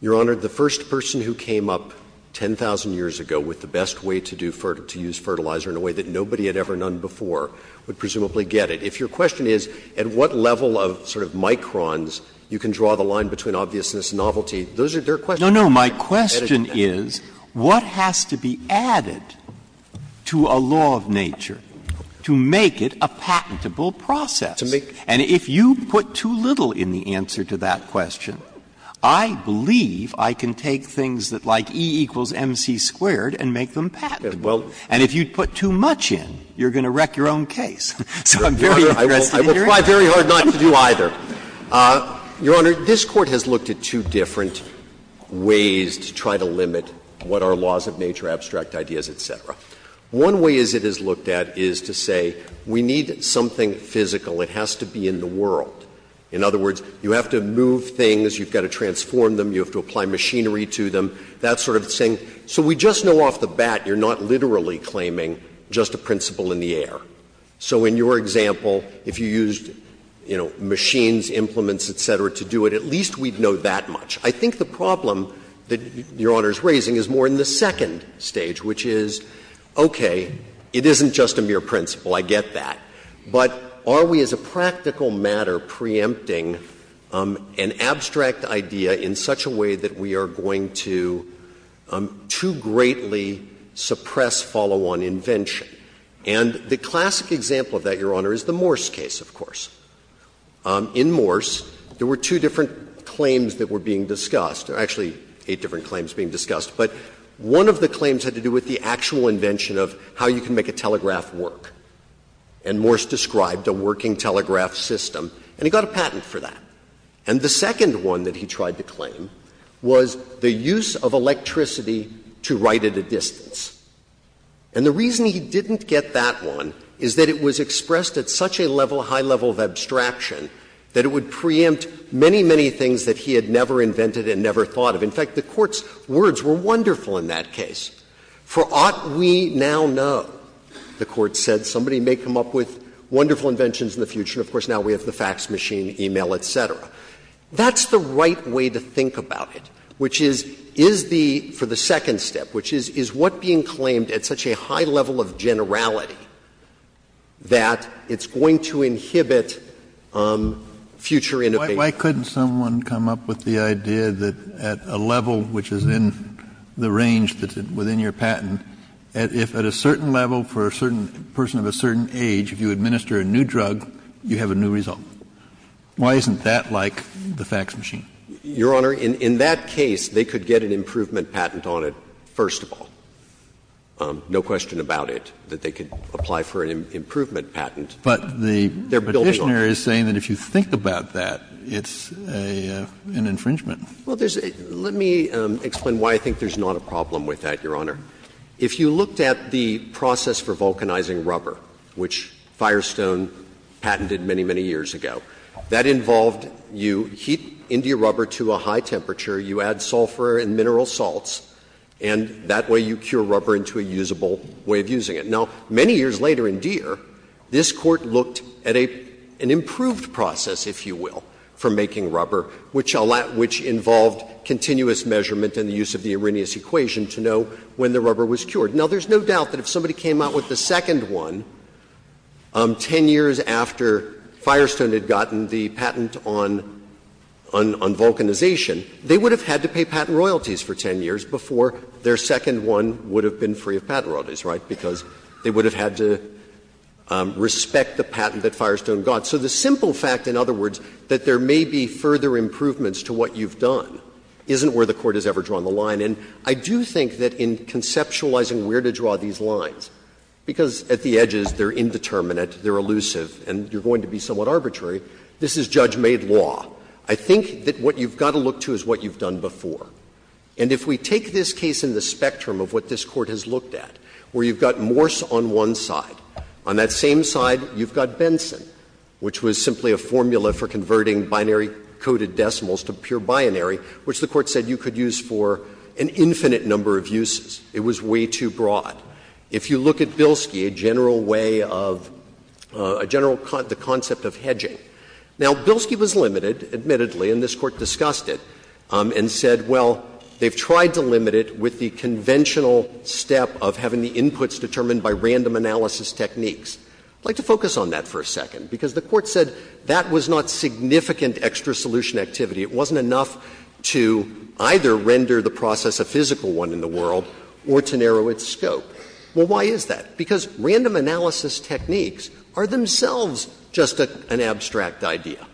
Your Honor, the first person who came up 10,000 years ago with the best way to do, to use fertilizer in a way that nobody had ever done before would presumably get it. If your question is, at what level of sort of microns you can draw the line between obviousness and novelty, those are, they're questions. No, no, my question is, what has to be added to a law of nature to make it a patentable process? And if you put too little in the answer to that question, I believe I can take things that, like E equals MC squared, and make them patentable. And if you put too much in, you're going to wreck your own case. So I'm very interested in hearing it. I will try very hard not to do either. Your Honor, this Court has looked at two different ways to try to limit what are laws of nature, abstract ideas, et cetera. One way as it is looked at is to say we need something physical. It has to be in the world. In other words, you have to move things, you've got to transform them, you have to apply machinery to them, that sort of thing. So we just know off the bat you're not literally claiming just a principle in the air. So in your example, if you used, you know, machines, implements, et cetera, to do it, at least we'd know that much. I think the problem that Your Honor is raising is more in the second stage, which is, okay, it isn't just a mere principle, I get that, but are we as a practical matter preempting an abstract idea in such a way that we are going to too greatly suppress follow-on invention? And the classic example of that, Your Honor, is the Morse case, of course. In Morse, there were two different claims that were being discussed, or actually eight different claims being discussed, but one of the claims had to do with the actual invention of how you can make a telegraph work. And Morse described a working telegraph system, and he got a patent for that. And the second one that he tried to claim was the use of electricity to write at a distance. And the reason he didn't get that one is that it was expressed at such a level, high level of abstraction, that it would preempt many, many things that he had never invented and never thought of. In fact, the Court's words were wonderful in that case. For ought we now know, the Court said, somebody may come up with wonderful inventions in the future, and of course now we have the fax machine, e-mail, et cetera. That's the right way to think about it, which is, is the — for the second step, which is, is what being claimed at such a high level of generality, that it's going to inhibit future innovation? Kennedy, why couldn't someone come up with the idea that at a level which is in the range that's within your patent, if at a certain level for a certain person of a certain age, if you administer a new drug, you have a new result? Why isn't that like the fax machine? Your Honor, in that case, they could get an improvement patent on it, first of all. No question about it, that they could apply for an improvement patent. But the Petitioner is saying that if you think about that, it's an infringement. Well, there's a — let me explain why I think there's not a problem with that, Your Honor. If you looked at the process for vulcanizing rubber, which Firestone patented many, many years ago, that involved you heat India rubber to a high temperature, you add sulfur and mineral salts, and that way you cure rubber into a usable way of using it. Now, many years later in Deere, this Court looked at an improved process, if you will, for making rubber, which allowed — which involved continuous measurement and the use of the Arrhenius equation to know when the rubber was cured. Now, there's no doubt that if somebody came out with the second one 10 years after Firestone had gotten the patent on vulcanization, they would have had to pay patent royalties for 10 years before their second one would have been free of patent royalties, right, because they would have had to respect the patent that Firestone got. So the simple fact, in other words, that there may be further improvements to what you've done isn't where the Court has ever drawn the line. And I do think that in conceptualizing where to draw these lines, because at the edges they're indeterminate, they're elusive, and you're going to be somewhat arbitrary, this is judge-made law. I think that what you've got to look to is what you've done before. And if we take this case in the spectrum of what this Court has looked at, where you've got Morse on one side, on that same side you've got Benson, which was simply a formula for converting binary-coded decimals to pure binary, which the Court said you could use for an infinite number of uses. It was way too broad. If you look at Bilski, a general way of a general concept of hedging, now, Bilski was limited, admittedly, and this Court discussed it, and said, well, they've tried to limit it with the conventional step of having the inputs determined by random analysis techniques. I'd like to focus on that for a second, because the Court said that was not significant extra solution activity. It wasn't enough to either render the process a physical one in the world or to narrow its scope. Well, why is that? Because random analysis techniques are themselves just an abstract idea.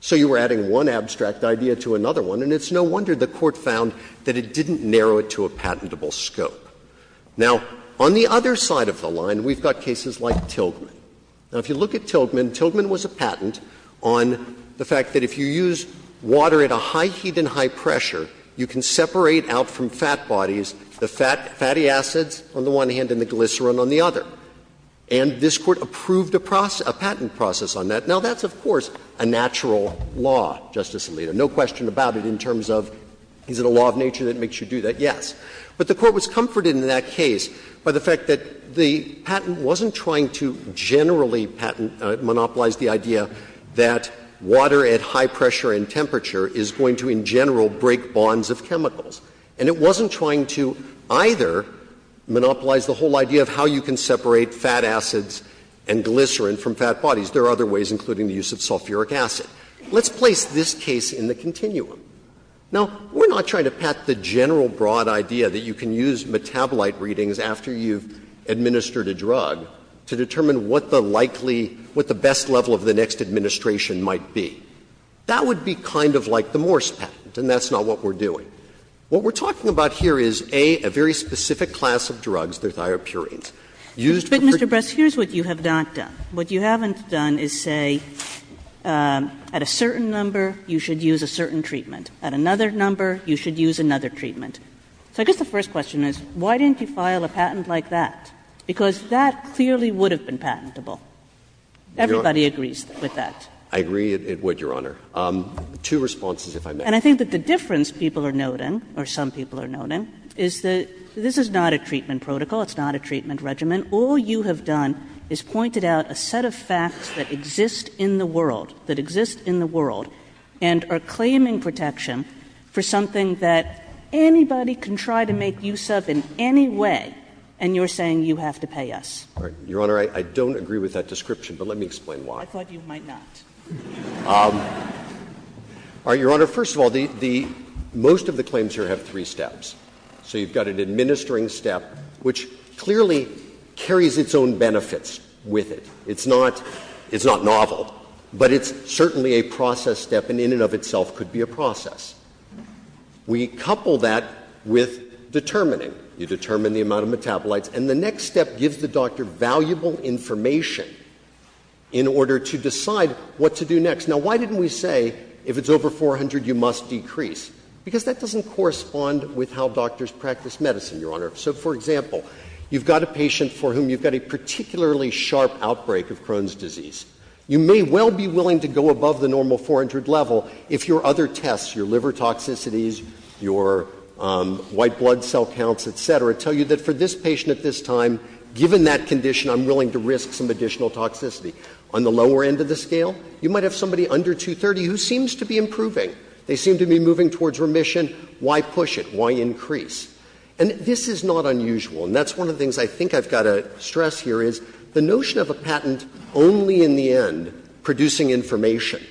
So you were adding one abstract idea to another one, and it's no wonder the Court found that it didn't narrow it to a patentable scope. Now, on the other side of the line, we've got cases like Tildman. Now, if you look at Tildman, Tildman was a patent on the fact that if you use water at a high heat and high pressure, you can separate out from fat bodies the fat, fatty acids on the one hand and the glycerin on the other. And this Court approved a patent process on that. Now, that's, of course, a natural law, Justice Alito, no question about it, in terms of is it a law of nature that makes you do that? Yes. But the Court was comforted in that case by the fact that the patent wasn't trying to generally monopolize the idea that water at high pressure and temperature is going to, in general, break bonds of chemicals. And it wasn't trying to either monopolize the whole idea of how you can separate fat acids and glycerin from fat bodies. There are other ways, including the use of sulfuric acid. Let's place this case in the continuum. Now, we're not trying to patent the general broad idea that you can use metabolite readings after you've administered a drug to determine what the likely, what the best level of the next administration might be. That would be kind of like the Morse patent, and that's not what we're doing. What we're talking about here is, A, a very specific class of drugs, the thiopurines. Used for treatment. Kagan. Kagan. Kagan. Kagan. Kagan. Kagan. Kagan. Kagan. Kagan. Kagan. Kagan. Kagan. Kagan. Kagan. But you wouldn't file a patent like that. Because that clearly would have been patentable. Everybody agrees with that. Kagan. Kagan. I agree it would, Your Honor. Two responses, if I may. And I think the difference people are noting or some people are noting, is that this is not a treatment protocol, it's not a treatment regimen. All you have done is pointed out a set of facts that exist in the world, that exist in the world, and are claiming protection for something that anybody can try to make use of in any way, and you're saying you have to pay us. Your Honor, I don't agree with that description, but let me explain why. I thought you might not. Your Honor, first of all, most of the claims here have three steps. So you've got an administering step, which clearly carries its own benefits with it. It's not novel, but it's certainly a process step, and in and of itself could be a process. We couple that with determining. You determine the amount of metabolites, and the next step gives the doctor valuable information in order to decide what to do next. Now, why didn't we say if it's over 400, you must decrease? Because that doesn't correspond with how doctors practice medicine, Your Honor. So, for example, you've got a patient for whom you've got a particularly sharp outbreak of Crohn's disease. You may well be willing to go above the normal 400 level if your other tests, your liver toxicities, your white blood cell counts, et cetera, tell you that for this patient at this time, given that condition, I'm willing to risk some additional toxicity. On the lower end of the scale, you might have somebody under 230 who seems to be improving. They seem to be moving towards remission. Why push it? Why increase? And this is not unusual, and that's one of the things I think I've got to stress here is the notion of a patent only in the end producing information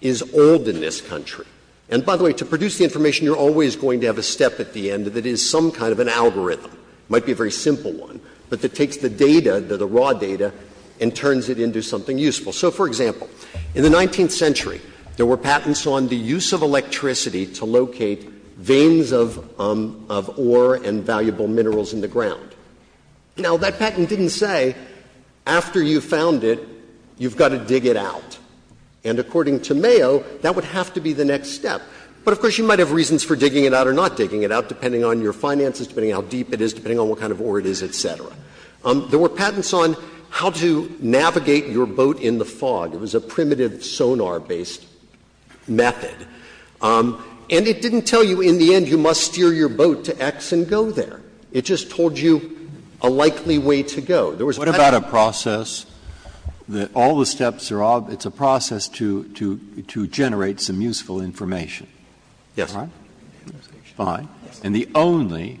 is old in this country. And, by the way, to produce the information, you're always going to have a step at the end that is some kind of an algorithm. It might be a very simple one, but it takes the data, the raw data, and turns it into something useful. So, for example, in the 19th century, there were patents on the use of electricity to locate veins of ore and valuable minerals in the ground. Now, that patent didn't say after you found it, you've got to dig it out. And according to Mayo, that would have to be the next step. But, of course, you might have reasons for digging it out or not digging it out, depending on your finances, depending on how deep it is, depending on what kind of ore it is, et cetera. There were patents on how to navigate your boat in the fog. It was a primitive sonar-based method. And it didn't tell you in the end you must steer your boat to X and go there. It just told you a likely way to go. There was a patent on that. Breyer. The only new thing about it is that it's a process that all the steps are all — it's a process to generate some useful information. Yes. All right? Fine. And the only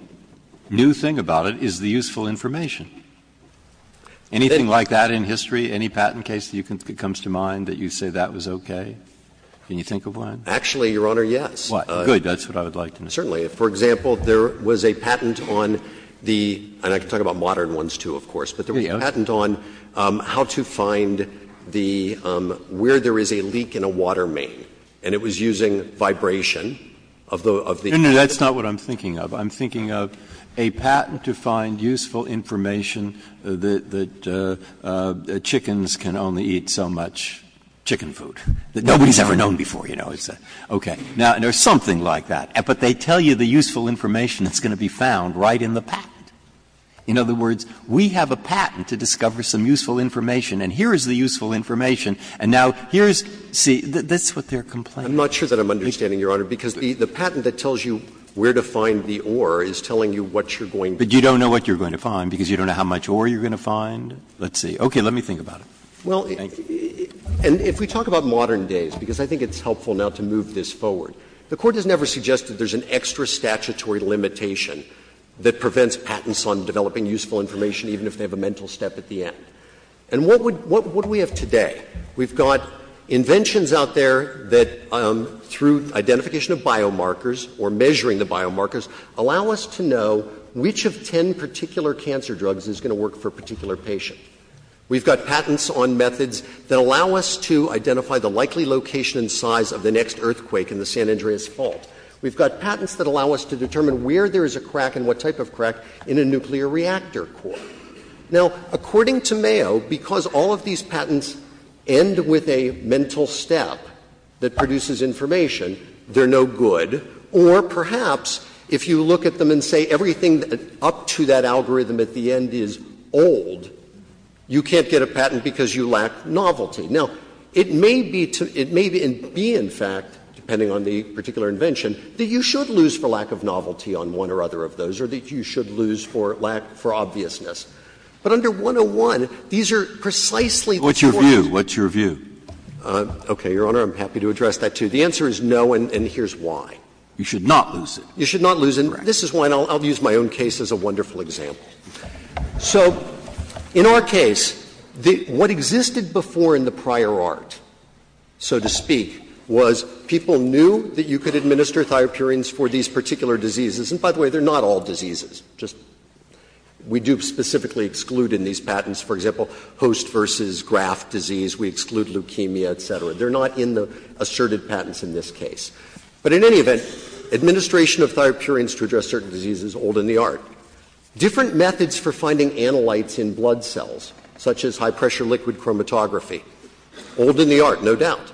new thing about it is the useful information. Anything like that in history, any patent case that comes to mind that you say that was okay? Can you think of one? Actually, Your Honor, yes. Why? Good. That's what I would like to know. Certainly. For example, there was a patent on the — and I can talk about modern ones, too, of course. But there was a patent on how to find the — where there is a leak in a water main. And it was using vibration of the — No, no. That's not what I'm thinking of. I'm thinking of a patent to find useful information that chickens can only eat so much chicken food that nobody's ever known before, you know. It's a — okay. Now, there's something like that. But they tell you the useful information that's going to be found right in the patent. In other words, we have a patent to discover some useful information, and here is the useful information, and now here is — see, that's what they're complaining about. I'm not sure that I'm understanding, Your Honor, because the patent that tells you where to find the ore is telling you what you're going to find. But you don't know what you're going to find because you don't know how much ore you're going to find? Let's see. Okay. Let me think about it. Well, and if we talk about modern days, because I think it's helpful now to move this forward, the Court has never suggested there's an extra statutory limitation that prevents patents on developing useful information, even if they have a mental step at the end. And what would — what do we have today? We've got inventions out there that, through identification of biomarkers or measuring the biomarkers, allow us to know which of ten particular cancer drugs is going to work for a particular patient. We've got patents on methods that allow us to identify the likely location and size of the next earthquake in the San Andreas Fault. We've got patents that allow us to determine where there is a crack and what type of crack in a nuclear reactor core. Now, according to Mayo, because all of these patents end with a mental step that produces information, they're no good, or perhaps if you look at them and say everything up to that algorithm at the end is old, you can't get a patent because you lack novelty. Now, it may be to — it may be, in fact, depending on the particular invention, that you should lose for lack of novelty on one or other of those, or that you should lose for lack — for obviousness. But under 101, these are precisely the sort of things that you should not lose. Breyer. What's your view? Okay, Your Honor, I'm happy to address that, too. The answer is no, and here's why. You should not lose it. You should not lose it. Correct. And this is why, and I'll use my own case as a wonderful example. So in our case, what existed before in the prior art, so to speak, was people knew that you could administer thiopurines for these particular diseases. And by the way, they're not all diseases, just — we do specifically exclude in these patents. For example, host versus graft disease, we exclude leukemia, et cetera. They're not in the asserted patents in this case. But in any event, administration of thiopurines to address certain diseases is old in the art. Different methods for finding analytes in blood cells, such as high-pressure liquid chromatography, old in the art, no doubt.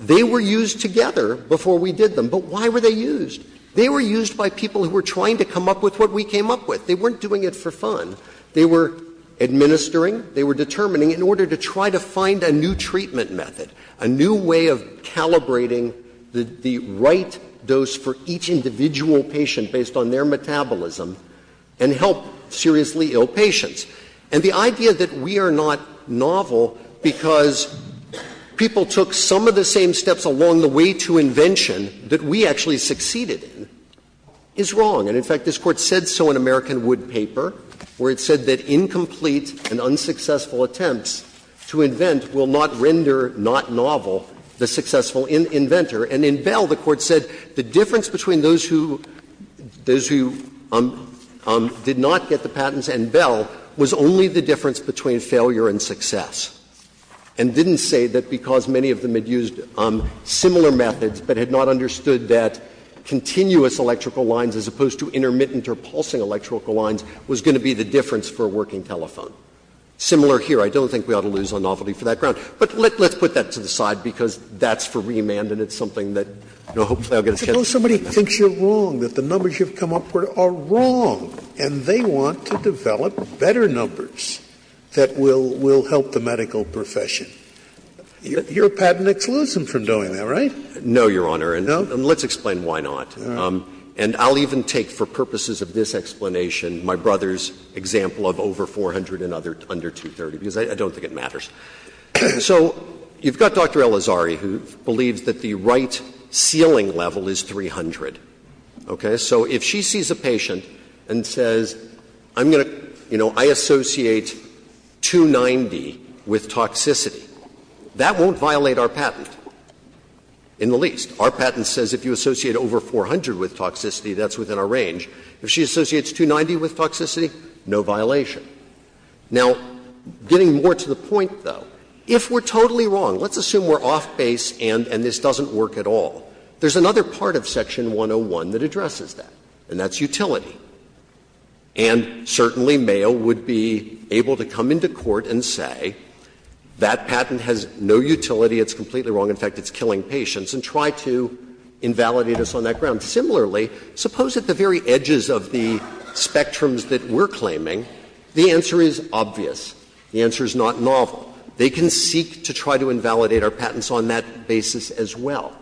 They were used together before we did them, but why were they used? They were used by people who were trying to come up with what we came up with. They weren't doing it for fun. They were administering, they were determining, in order to try to find a new treatment method, a new way of calibrating the right dose for each individual patient based on their metabolism and help seriously ill patients. And the idea that we are not novel because people took some of the same steps along the way to invention that we actually succeeded in is wrong. And, in fact, this Court said so in American Wood paper, where it said that incomplete and unsuccessful attempts to invent will not render not novel the successful inventor. And in Bell, the Court said the difference between those who did not get the patents and Bell was only the difference between failure and success, and didn't say that because many of them had used similar methods, but had not understood that continuous electrical lines, as opposed to intermittent or pulsing electrical lines, was going to be the difference for a working telephone. Similar here. I don't think we ought to lose on novelty for that ground. But let's put that to the side, because that's for remand and it's something that, you know, hopefully I'll get a chance to do that. Scalia I suppose somebody thinks you're wrong, that the numbers you've come up with are wrong, and they want to develop better numbers that will help the medical profession. Your patent excludes them from doing that, right? Waxman No, Your Honor, and let's explain why not. And I'll even take, for purposes of this explanation, my brother's example of over 400 and under 230, because I don't think it matters. So you've got Dr. Elazari, who believes that the right ceiling level is 300, okay? So if she sees a patient and says, I'm going to, you know, I associate 290 with toxicity, that won't violate our patent, in the least. Our patent says if you associate over 400 with toxicity, that's within our range. If she associates 290 with toxicity, no violation. Now, getting more to the point, though, if we're totally wrong, let's assume we're off base and this doesn't work at all. There's another part of Section 101 that addresses that, and that's utility. And certainly Mayo would be able to come into court and say that patent has no utility, it's completely wrong, in fact, it's killing patients, and try to invalidate us on that ground. Similarly, suppose at the very edges of the spectrums that we're claiming, the answer is obvious. The answer is not novel. They can seek to try to invalidate our patents on that basis as well.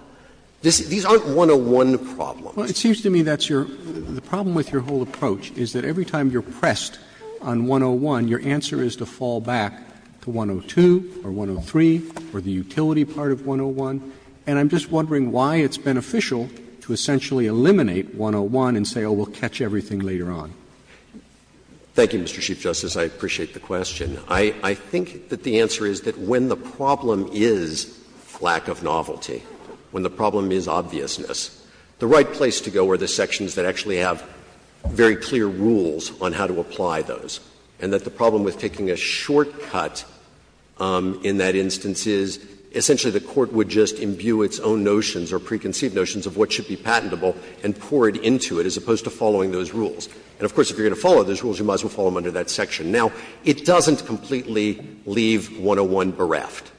These aren't 101 problems. Roberts. Well, it seems to me that's your — the problem with your whole approach is that every time you're pressed on 101, your answer is to fall back to 102 or 103 or the utility part of 101. And I'm just wondering why it's beneficial to essentially eliminate 101 and say, oh, we'll catch everything later on. Thank you, Mr. Chief Justice. I appreciate the question. I think that the answer is that when the problem is lack of novelty, when the problem is obviousness, the right place to go are the sections that actually have very clear rules on how to apply those, and that the problem with taking a shortcut in that section is that it doesn't just imbue its own notions or preconceived notions of what should be patentable and pour it into it as opposed to following those rules. And, of course, if you're going to follow those rules, you might as well follow them under that section. Now, it doesn't completely leave 101 bereft.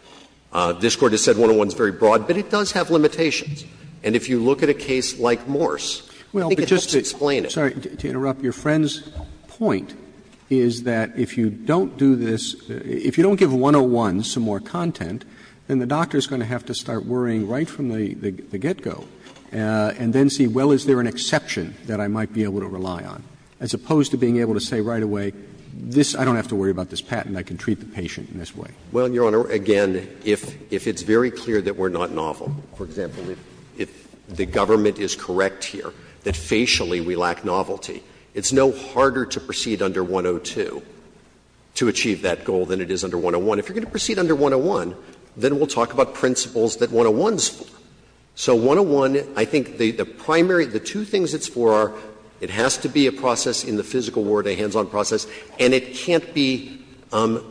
This Court has said 101 is very broad, but it does have limitations. And if you look at a case like Morse, I think it helps explain it. Roberts. Roberts. Roberts. To interrupt, your friend's point is that if you don't do this, if you don't give 101 some more content, then the doctor is going to have to start worrying right from the get-go and then see, well, is there an exception that I might be able to rely on, as opposed to being able to say right away, I don't have to worry about this patent, I can treat the patient in this way. Well, Your Honor, again, if it's very clear that we're not novel, for example, if the government is correct here, that facially we lack novelty, it's no harder to proceed under 102 to achieve that goal than it is under 101. If you're going to proceed under 101, then we'll talk about principles that 101 is for. So 101, I think the primary, the two things it's for are it has to be a process in the physical world, a hands-on process, and it can't be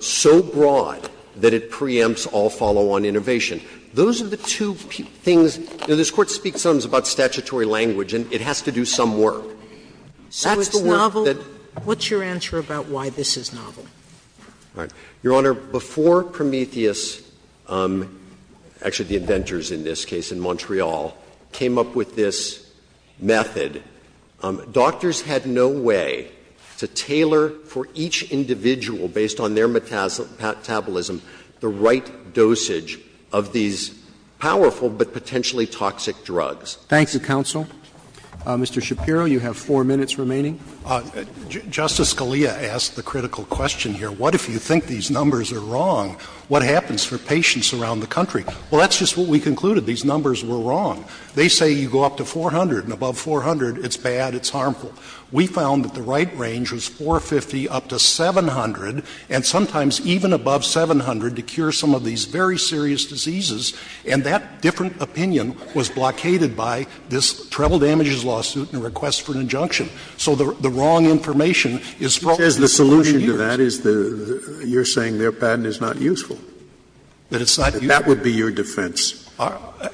so broad that it preempts all follow-on innovation. Those are the two things, you know, this Court speaks sometimes about statutory language and it has to do some work. Sotomayor, that's the work that. Sotomayor, what's your answer about why this is novel? Your Honor, before Prometheus, actually the inventors in this case in Montreal, came up with this method, doctors had no way to tailor for each individual based on their metabolism, the right dosage of these powerful but potentially toxic drugs. Roberts. Thanks, counsel. Mr. Shapiro, you have four minutes remaining. Justice Scalia asked the critical question here, what if you think these numbers are wrong, what happens for patients around the country? Well, that's just what we concluded, these numbers were wrong. They say you go up to 400 and above 400, it's bad, it's harmful. We found that the right range was 450 up to 700, and sometimes even above 700 to cure some of these very serious diseases, and that different opinion was blockaded by this treble damages lawsuit and a request for an injunction. So the wrong information is spoken for years. The solution to that is you're saying their patent is not useful. That it's not useful. That would be your defense.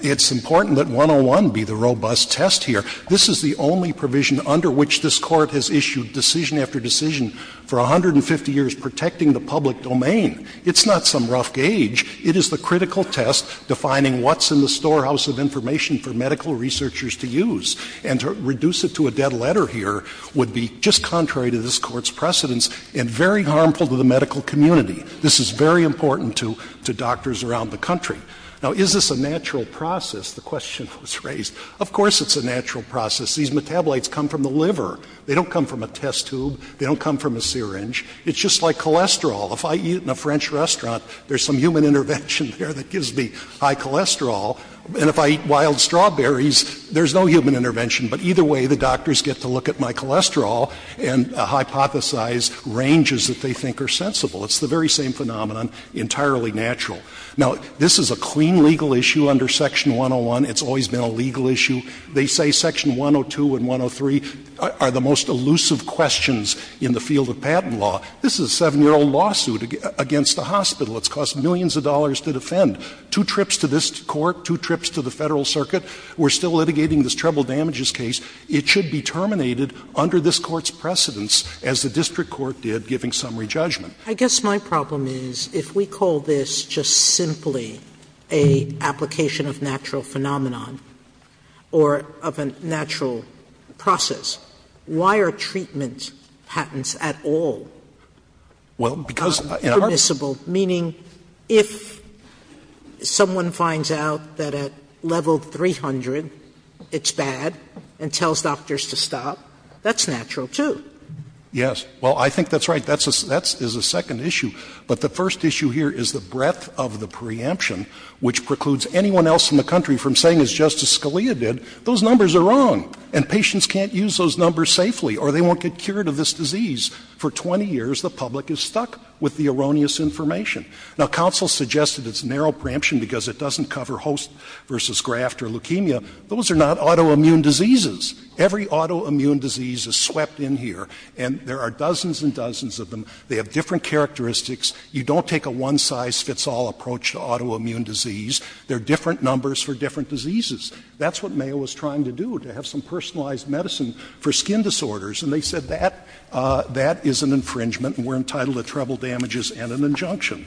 It's important that 101 be the robust test here. This is the only provision under which this Court has issued decision after decision for 150 years protecting the public domain. It's not some rough gauge. It is the critical test defining what's in the storehouse of information for medical researchers to use. And to reduce it to a dead letter here would be just contrary to this Court's precedence and very harmful to the medical community. This is very important to doctors around the country. Now, is this a natural process, the question was raised. Of course it's a natural process. These metabolites come from the liver. They don't come from a test tube. They don't come from a syringe. It's just like cholesterol. If I eat in a French restaurant, there's some human intervention there that gives me high cholesterol. And if I eat wild strawberries, there's no human intervention. But either way, the doctors get to look at my cholesterol and hypothesize ranges that they think are sensible. It's the very same phenomenon, entirely natural. Now, this is a clean legal issue under Section 101. It's always been a legal issue. They say Section 102 and 103 are the most elusive questions in the field of patent law. This is a 7-year-old lawsuit against a hospital. It's cost millions of dollars to defend. Two trips to this Court, two trips to the Federal Circuit. We're still litigating this treble damages case. It should be terminated under this Court's precedence, as the district court did, giving summary judgment. Sotomayor, I guess my problem is, if we call this just simply an application of natural phenomenon or of a natural process, why are treatment patents at all permissible? Meaning, if someone finds out that at level 300 it's bad and tells doctors to stop, that's natural, too. Yes. Well, I think that's right. That is a second issue. But the first issue here is the breadth of the preemption, which precludes anyone else in the country from saying, as Justice Scalia did, those numbers are wrong, and patients can't use those numbers safely, or they won't get cured of this disease. For 20 years, the public is stuck with the erroneous information. Now, counsel suggested it's narrow preemption because it doesn't cover host versus graft or leukemia. Those are not autoimmune diseases. Every autoimmune disease is swept in here, and there are dozens and dozens of them. They have different characteristics. You don't take a one-size-fits-all approach to autoimmune disease. There are different numbers for different diseases. That's what Mayo was trying to do, to have some personalized medicine for skin disorders. And they said that that is an infringement, and we're entitled to treble damages and an injunction.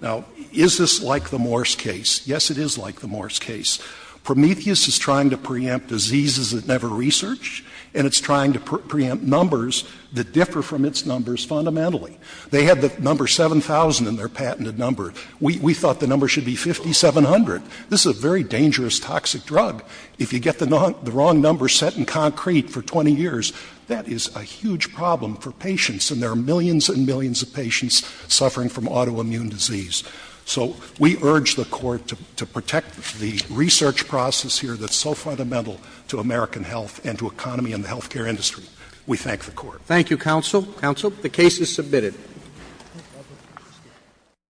Now, is this like the Morse case? Yes, it is like the Morse case. Prometheus is trying to preempt diseases it never researched, and it's trying to preempt numbers that differ from its numbers fundamentally. They had the number 7,000 in their patented number. We thought the number should be 5,700. This is a very dangerous, toxic drug. If you get the wrong number set in concrete for 20 years, that is a huge problem for patients, and there are millions and millions of patients suffering from autoimmune disease. So we urge the Court to protect the research process here that's so fundamental to American health and to economy and the health care industry. We thank the Court. Thank you, counsel. Counsel, the case is submitted.